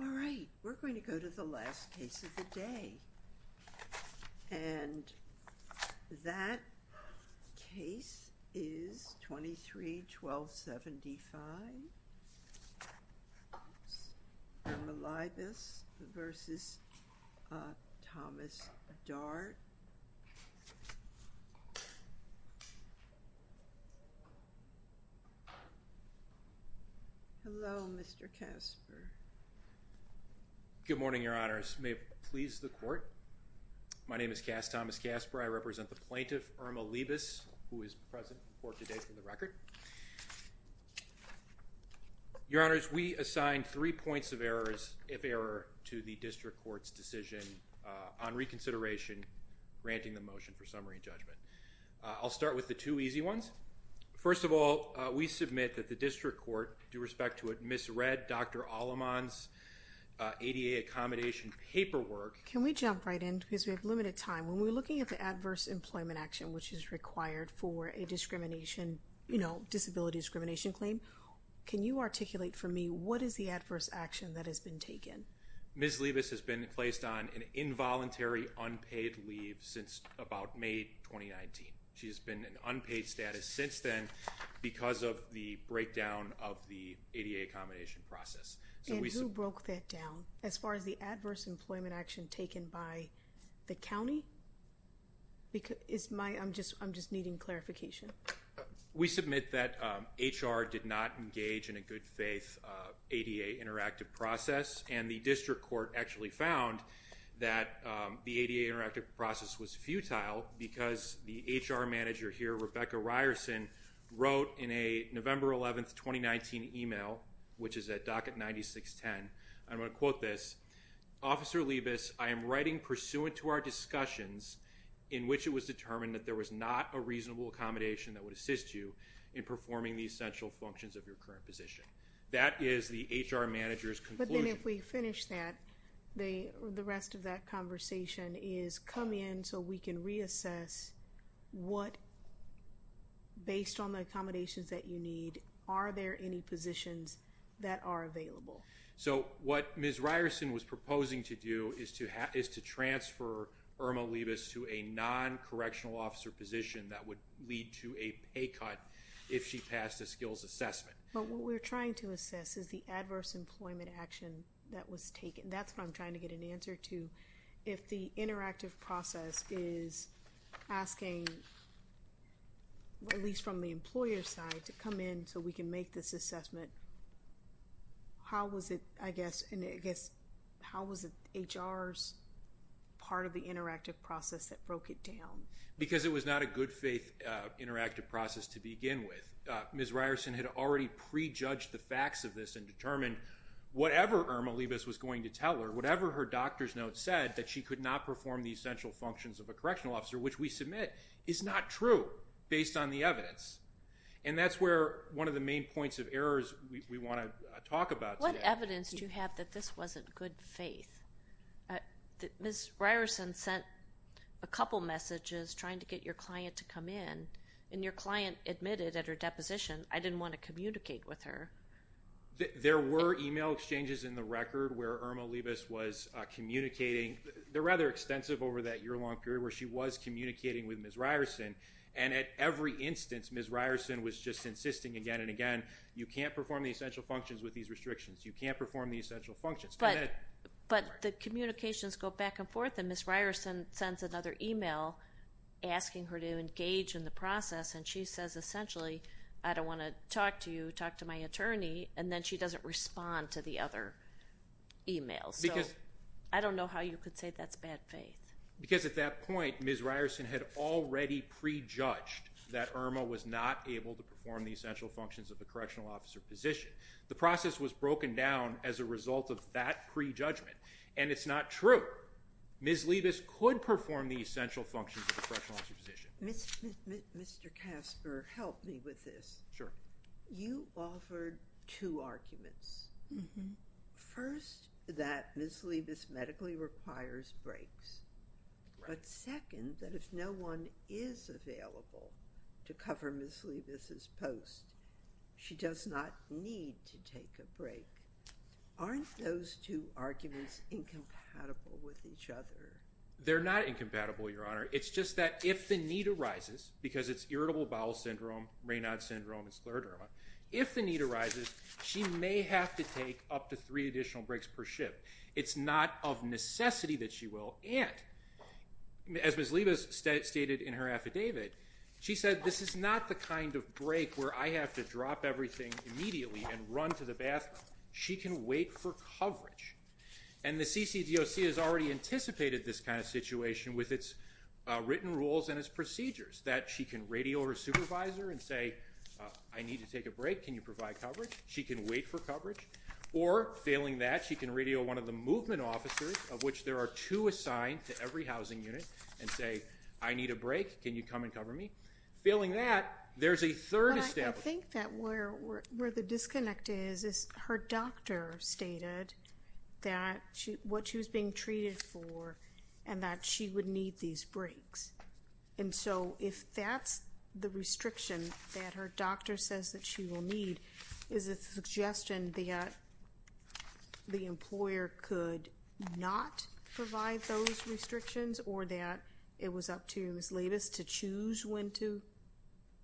All right, we're going to go to the last case of the day, and that case is 23-1275. Erma Leibas v. Thomas Dart. Hello, Mr. Casper. Good morning, Your Honors. May it please the Court. My name is Cass Thomas Casper. I represent the plaintiff, Erma Leibas, who is present for today for the record. Your Honors, we assigned three points of error, if error, to the District Court's decision on reconsideration, granting the motion for summary and judgment. I'll start with the two easy ones. First of all, we submit that the District Court, due respect to it, misread Dr. Aleman's ADA accommodation paperwork. Can we jump right in, because we have limited time. When we're looking at the adverse employment action, which is required for a discrimination, you know, disability discrimination claim, can you articulate for me what is the adverse action that has been taken? Ms. Leibas has been placed on an involuntary unpaid leave since about May 2019. She has been in unpaid status since then because of the breakdown of the ADA accommodation process. And who broke that down, as far as the adverse employment action taken by the county? Because it's my, I'm just, I'm just needing clarification. We submit that HR did not engage in a good-faith ADA interactive process and the District Court actually found that the ADA interactive process was futile because the HR manager here, Rebecca Ryerson, wrote in a November 11th, 2019 email, which is at docket 9610, I'm going to quote this, Officer Leibas, I am writing pursuant to our discussions in which it was determined that there was not a reasonable accommodation that would assist you in performing the essential functions of your current position. That is the HR manager's conclusion. But then if we finish that, the rest of that conversation is come in so we can reassess what, based on the accommodations that you need, are there any positions that are available? So what Ms. Ryerson was proposing to do is to transfer Irma Leibas to a non-correctional officer position that would lead to a pay cut if she passed a skills assessment. But what we're trying to assess is the adverse employment action that was taken. That's what I'm trying to get an answer to. If the interactive process is asking, at least from the employer's side, to come in so we can make this assessment, how was it, I guess, how was it HR's part of the interactive process that broke it down? Because it was not a good faith interactive process to begin with. Ms. Ryerson had already pre-judged the facts of this and determined whatever Irma Leibas was going to tell her, whatever her doctor's note said, that she could not perform the essential functions of a correctional officer, which we submit, is not true based on the evidence. And that's where one of the main points of errors we want to talk about. What evidence do you have that this wasn't good faith? Ms. Ryerson sent a couple messages trying to get your client to come in and your client admitted at her deposition, I didn't want to communicate with her. There were email exchanges in the record where Irma Leibas was communicating. They're rather extensive over that year-long period where she was communicating with Ms. Ryerson and at every instance Ms. Ryerson was just insisting again and again, you can't perform the essential functions with these restrictions, you can't perform the essential functions. But the communications go back and forth and Ms. Ryerson sends another email asking her to engage in the process and she says essentially, I don't want to talk to you, talk to my attorney, and then she doesn't respond to the other emails. I don't know how you could say that's bad faith. Because at that point, Ms. Ryerson had already pre-judged that Irma was not able to perform the essential functions of the correctional officer position. The process was broken down as a result of that pre-judgment and it's not true. Ms. Leibas could perform the essential functions of the correctional officer position. Mr. Kasper, help me with this. You offered two arguments. First, that Ms. Leibas medically requires breaks. But second, that if no one is available to cover Ms. Leibas's post, she does not need to take a break. Aren't those two arguments incompatible with each other? They're not incompatible, Your Honor. It's just that if the need arises, because it's irritable bowel syndrome, Raynaud syndrome, and scleroderma, if the need arises, she may have to take up to three additional breaks per shift. It's not of necessity that she will. And, as Ms. Leibas stated in her affidavit, she said this is not the kind of break where I have to drop everything immediately and run to the bathroom. She can wait for coverage. And the CCDOC has already anticipated this kind of situation with its written rules and its procedures. That she can radio her supervisor and say, I need to take a break, can you provide coverage? She can wait for coverage. Or, failing that, she can radio one of the movement officers, of which there are two assigned to every housing unit, and say, I need a break, can you come and cover me? Failing that, there's a third establishment. I think that where the disconnect is, is her doctor stated that she, what she was being treated for, and that she would need these breaks. And so, if that's the restriction that her doctor says that she will need, is it a suggestion that the employer could not provide those restrictions, or that it was up to Ms. Leibas to choose when to,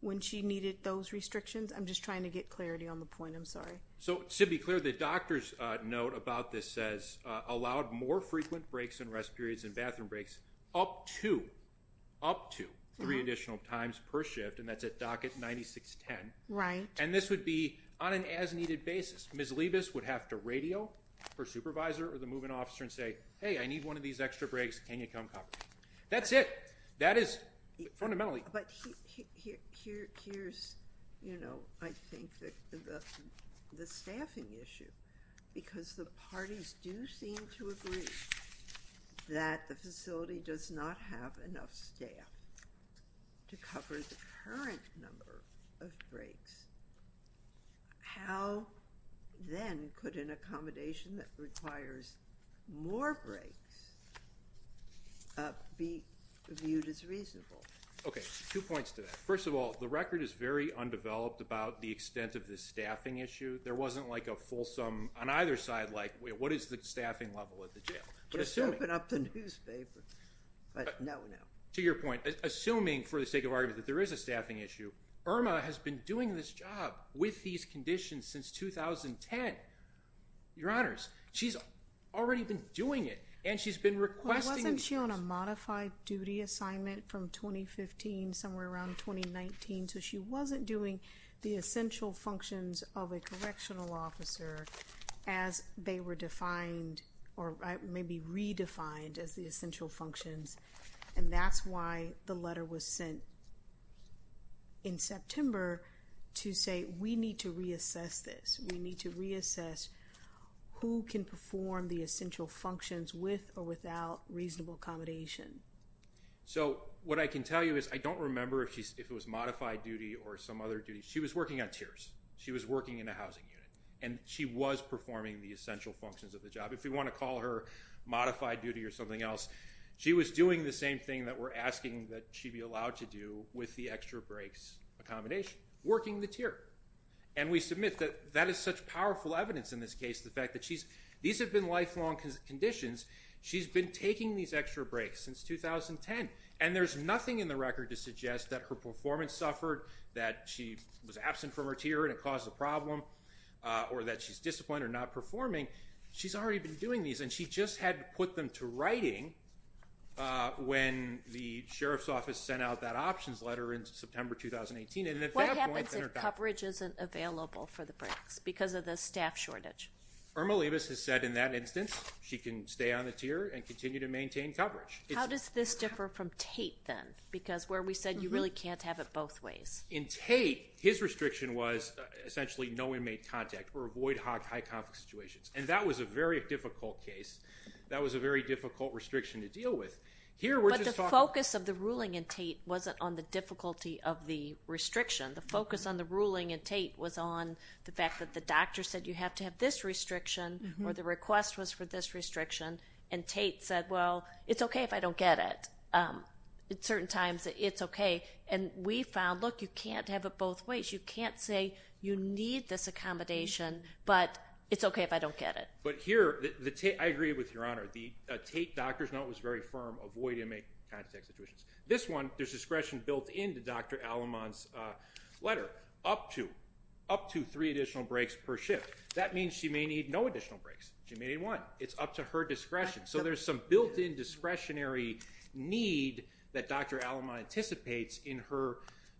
when she needed those restrictions? I'm just trying to get clarity on the point, I'm sorry. So, to be clear, the doctor's note about this says, allowed more frequent breaks and rest periods and bathroom breaks up to, up to, three additional times per month. And this would be on an as-needed basis. Ms. Leibas would have to radio her supervisor or the movement officer and say, hey, I need one of these extra breaks, can you come cover me? That's it. That is, fundamentally. But here's, you know, I think that the staffing issue, because the parties do seem to agree that the facility does not have enough staff to cover the current number of breaks. How, then, could an accommodation that requires more breaks be viewed as reasonable? Okay, two points to that. First of all, the record is very undeveloped about the extent of this staffing issue. There wasn't, like, a fulsome, on either side, like, what is the staffing level at the jail? Just open up the newspaper. But no, no. To your point, assuming, for the sake of argument, that there is a staffing issue, Irma has been doing this job with these conditions since 2010. Your Honors, she's already been doing it, and she's been requesting. Wasn't she on a modified duty assignment from 2015, somewhere around 2019? So she wasn't doing the essential functions of a correctional officer as they were defined, or maybe redefined, as the essential functions. And that's why the letter was sent in September to say, we need to reassess this. We need to reassess who can perform the essential functions with or without reasonable accommodation. So what I can tell you is, I don't remember if it was modified duty or some other duty. She was working on tiers. She was working in a housing unit, and she was performing the essential functions of the job. If we want to call her modified duty or something else, she was doing the same thing that we're asking that she be allowed to do with the extra breaks accommodation, working the tier. And we submit that that is such powerful evidence in this case, the fact that these have been lifelong conditions. She's been taking these extra breaks since 2010, and there's nothing in the record to suggest that her performance suffered, that she was absent from her tier and it caused a problem, or that she's disciplined or not performing. She's already been doing these, and she just had to put them to writing when the sheriff's office sent out that options letter in September 2018. What happens if coverage isn't available for the breaks because of the staff shortage? Irma Leibovitz has said in that instance, she can stay on the tier and continue to maintain coverage. How does this differ from Tate then? Because where we said you really can't have it both ways. In Tate, his restriction was essentially no inmate contact or avoid high conflict situations, and that was a very difficult case. That was a very difficult restriction to deal with. But the focus of the ruling in Tate wasn't on the difficulty of the restriction. The focus on the ruling in Tate was on the fact that the doctor said you have to have this restriction, or the request was for this restriction, and Tate said, well, it's okay if I don't get it. At certain times, it's okay. And we found, look, you can't have it both ways. It's okay if I don't get it. But here, I agree with your honor. The Tate doctor's note was very firm, avoid inmate contact situations. This one, there's discretion built into Dr. Alamont's letter up to three additional breaks per shift. That means she may need no additional breaks. She may need one. It's up to her discretion. So there's some built-in discretionary need that Dr. Alamont anticipates in her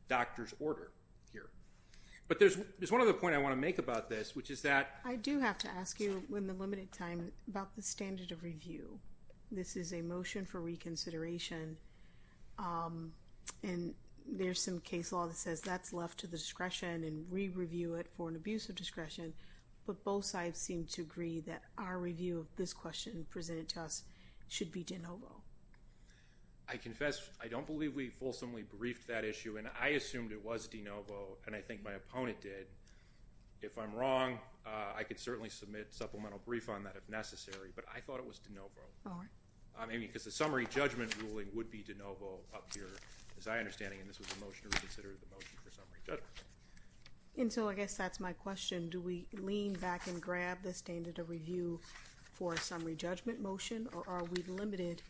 doctor's order here. But there's one other point I want to make about this, which is that... I do have to ask you, in the limited time, about the standard of review. This is a motion for reconsideration, and there's some case law that says that's left to the discretion, and we review it for an abuse of discretion. But both sides seem to agree that our review of this question presented to us should be de novo. I confess, I don't believe we fulsomely briefed that issue, and I assumed it was de novo, and I think my wrong. I could certainly submit supplemental brief on that if necessary, but I thought it was de novo. I mean, because the summary judgment ruling would be de novo up here, as I understand it, and this was a motion to reconsider the motion for summary judgment. And so I guess that's my question. Do we lean back and grab the standard of review for a summary judgment motion, or are we limited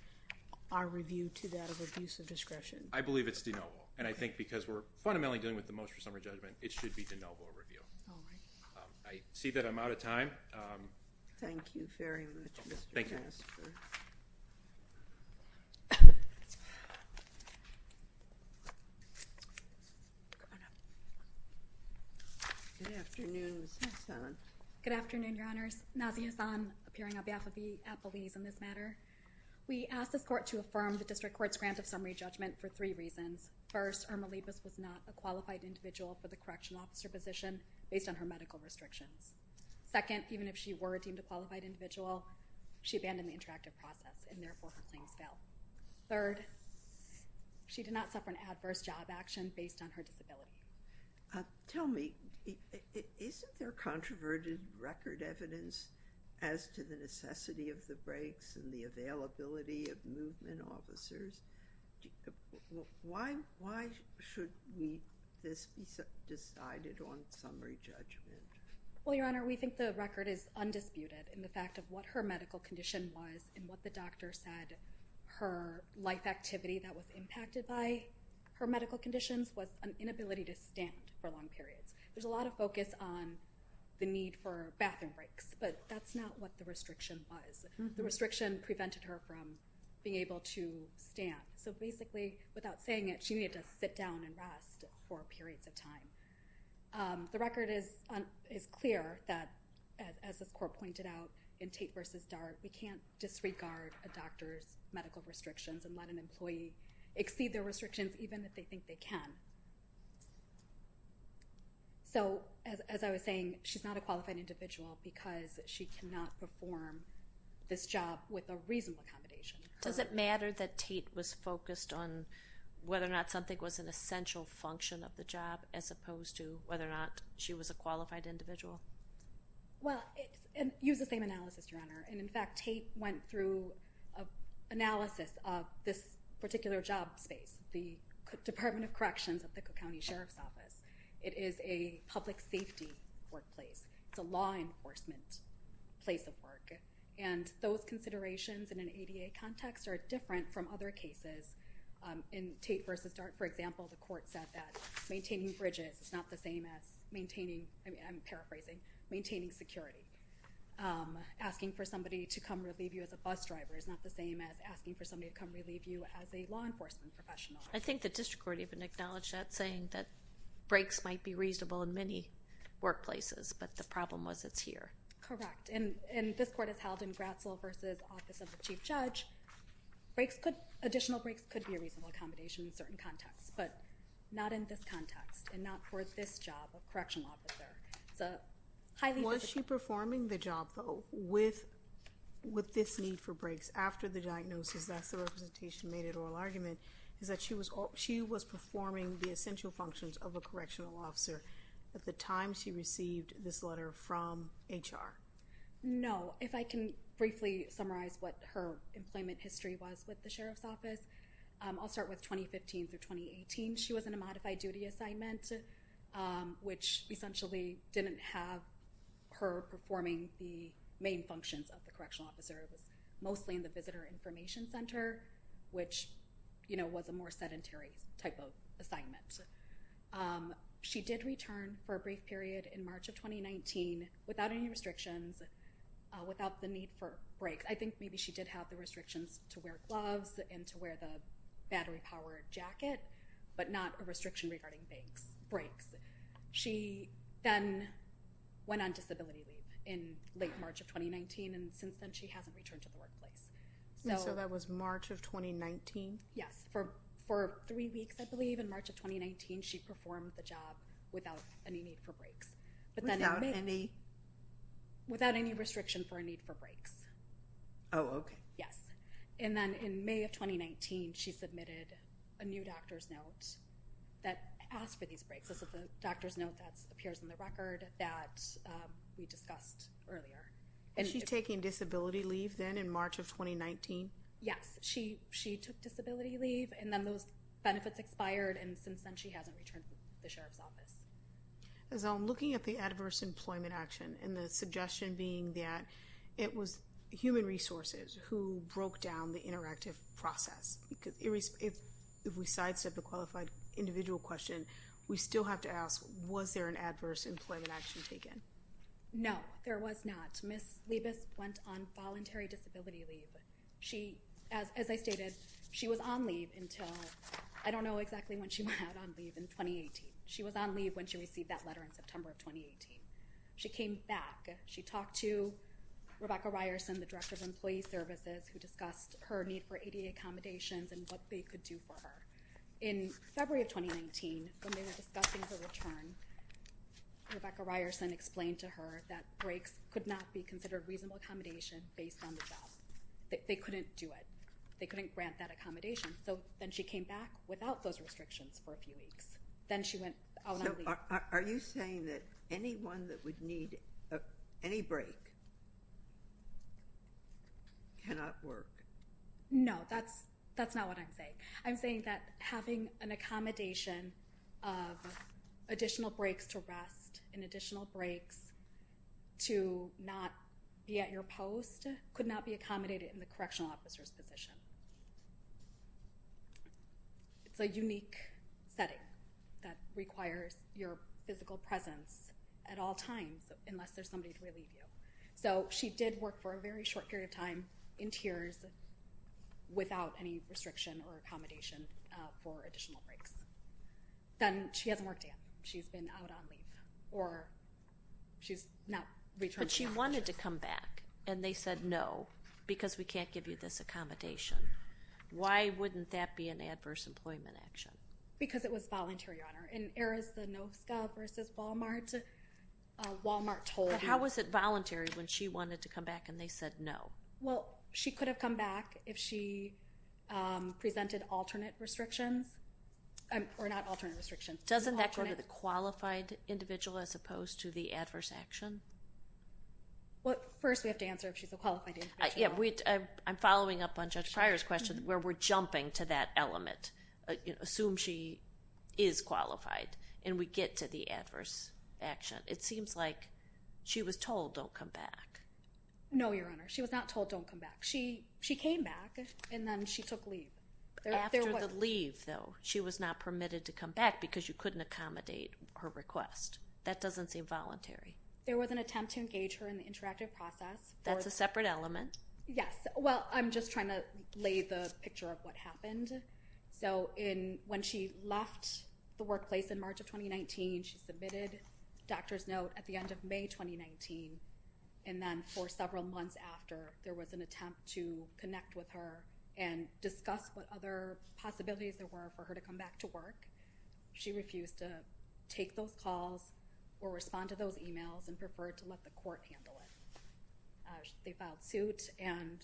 our review to that of abuse of discretion? I believe it's de novo, and I think because we're fundamentally dealing with the motion for summary judgment, it should be de novo review. I see that I'm out of time. Thank you very much, Mr. Chastrer. Good afternoon, Your Honors. Nazia Hassan, appearing on behalf of the appellees in this matter. We asked this court to affirm the District Court's grant of summary judgment for three reasons. First, Irma Lippis was not a based on her medical restrictions. Second, even if she were deemed a qualified individual, she abandoned the interactive process, and therefore her claims failed. Third, she did not suffer an adverse job action based on her disability. Tell me, isn't there controverted record evidence as to the necessity of the breaks and the availability of movement officers? Why should this be decided on summary judgment? Well, Your Honor, we think the record is undisputed in the fact of what her medical condition was and what the doctor said her life activity that was impacted by her medical conditions was an inability to stand for long periods. There's a lot of focus on the need for bathroom breaks, but that's not what the record prevented her from being able to stand. So basically, without saying it, she needed to sit down and rest for periods of time. The record is clear that, as this court pointed out in Tate v. Dart, we can't disregard a doctor's medical restrictions and let an employee exceed their restrictions even if they think they can. So, as I was saying, she's not a qualified individual because she cannot perform this job with a reasonable accommodation. Does it matter that Tate was focused on whether or not something was an essential function of the job as opposed to whether or not she was a qualified individual? Well, use the same analysis, Your Honor. And in fact, Tate went through an analysis of this particular job space, the Department of Corrections at the Cook Place of Work, and those considerations in an ADA context are different from other cases. In Tate v. Dart, for example, the court said that maintaining bridges is not the same as maintaining, I'm paraphrasing, maintaining security. Asking for somebody to come relieve you as a bus driver is not the same as asking for somebody to come relieve you as a law enforcement professional. I think the district court even acknowledged that, saying that breaks might be reasonable in many workplaces, but the problem was it's here. Correct. And this court has held in Gratzel v. Office of the Chief Judge, additional breaks could be a reasonable accommodation in certain contexts, but not in this context and not for this job of correctional officer. Was she performing the job, though, with this need for breaks after the diagnosis, that's the representation made at oral argument, is that she was performing the essential functions of a correctional officer at the time she received this HR? No. If I can briefly summarize what her employment history was with the sheriff's office, I'll start with 2015 through 2018. She was in a modified duty assignment, which essentially didn't have her performing the main functions of the correctional officer, mostly in the visitor information center, which, you know, was a more sedentary type of assignment. She did return for a brief period in March of 2019 without any restrictions, without the need for breaks. I think maybe she did have the restrictions to wear gloves and to wear the battery-powered jacket, but not a restriction regarding breaks. She then went on disability leave in late March of 2019, and since then she hasn't returned to the workplace. So that was March of 2019? Yes. For three weeks, I believe, in three weeks. Without any? Without any restriction for a need for breaks. Oh, okay. Yes. And then in May of 2019, she submitted a new doctor's note that asked for these breaks. This is the doctor's note that appears in the record that we discussed earlier. And she's taking disability leave then in March of 2019? Yes. She took disability leave, and then those benefits expired, and since then she hasn't returned to the workplace. Looking at the adverse employment action, and the suggestion being that it was human resources who broke down the interactive process, because if we sidestep a qualified individual question, we still have to ask, was there an adverse employment action taken? No, there was not. Ms. Leibis went on voluntary disability leave. She, as I stated, she was on leave until, I don't know exactly when she went on leave, in 2018. She was on leave when she went on leave in September of 2018. She came back. She talked to Rebecca Ryerson, the Director of Employee Services, who discussed her need for ADA accommodations and what they could do for her. In February of 2019, when they were discussing her return, Rebecca Ryerson explained to her that breaks could not be considered reasonable accommodation based on the job. They couldn't do it. They couldn't grant that accommodation. So then she came back without those restrictions for a few months. So you're saying that anyone that would need any break cannot work? No, that's not what I'm saying. I'm saying that having an accommodation of additional breaks to rest, and additional breaks to not be at your post, could not be accommodated in the Correctional Officer's position. It's a at all times, unless there's somebody to relieve you. So she did work for a very short period of time, in tiers, without any restriction or accommodation for additional breaks. Then, she hasn't worked yet. She's been out on leave, or she's not returned. But she wanted to come back, and they said no, because we can't give you this accommodation. Why wouldn't that be an adverse employment action? Because it was voluntary, Your Honor. In Walmart, told you. How was it voluntary when she wanted to come back, and they said no? Well, she could have come back if she presented alternate restrictions, or not alternate restrictions. Doesn't that go to the qualified individual, as opposed to the adverse action? Well, first we have to answer if she's a qualified individual. I'm following up on Judge Pryor's question, where we're jumping to that action. It seems like she was told don't come back. No, Your Honor. She was not told don't come back. She came back, and then she took leave. After the leave, though, she was not permitted to come back, because you couldn't accommodate her request. That doesn't seem voluntary. There was an attempt to engage her in the interactive process. That's a separate element. Yes. Well, I'm just trying to lay the picture of what happened. So, when she left the workplace in March of 2019, she submitted doctor's note at the end of May 2019, and then for several months after, there was an attempt to connect with her and discuss what other possibilities there were for her to come back to work. She refused to take those calls or respond to those emails and preferred to let the court handle it. They filed suit, and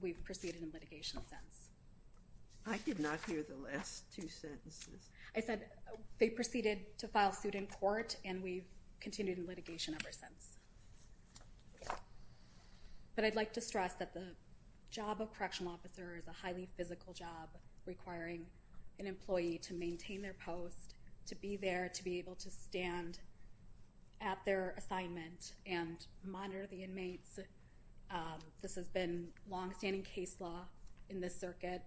we've proceeded in litigation since. I did not hear the last two sentences. I said they proceeded to file suit in court, and we've continued in litigation ever since. But I'd like to stress that the job of correctional officer is a highly physical job requiring an employee to maintain their post, to be there, to be able to stand at their assignment and monitor the inmates. This has been long-standing case law in this circuit.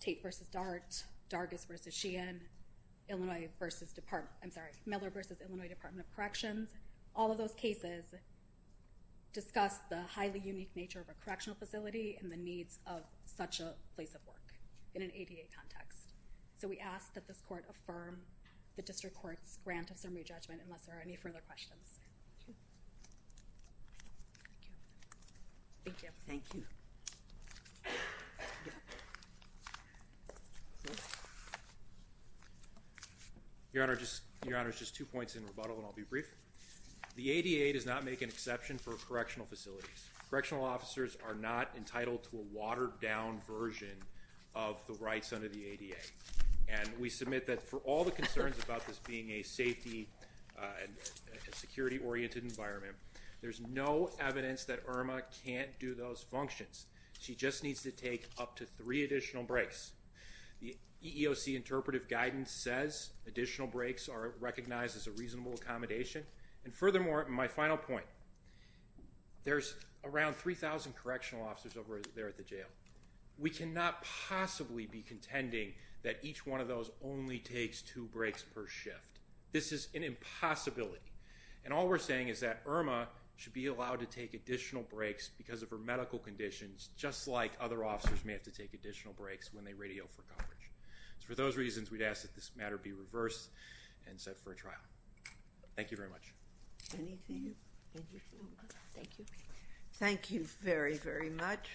Tate v. Dart, Dargis v. Sheehan, Miller v. Illinois Department of Corrections. All of those cases discuss the highly unique nature of a correctional facility and the needs of such a place of work in an ADA context. So, we ask that this court affirm the District Court's grant of summary judgment unless there are any further questions. Thank you. Your Honor, just two points in rebuttal and I'll be brief. The ADA does not make an exception for correctional facilities. Correctional officers are not entitled to a watered-down version of the rights under the ADA, and we submit that for all the concerns about this being a safety and security oriented environment. There's no evidence that Irma can't do those functions. She just needs to take up to three additional breaks. The EEOC interpretive guidance says additional breaks are recognized as a reasonable accommodation. And furthermore, my final point, there's around 3,000 correctional officers over there at the jail. We cannot possibly be contending that each one of those only takes two breaks per shift. This is an impossibility. And all we're saying is that Irma should be allowed to take additional breaks because of her medical conditions, just like other officers may have to take additional breaks when they radio for coverage. For those reasons, we'd ask that this matter be reversed and set for a trial. Thank you very much. Any of you? Thank you. Thank you very, very much.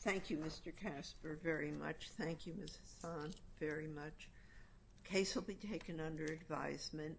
Thank you, Mr. Casper, very much. Thank you, Ms. Hahn, very much. Case will be taken under advisement.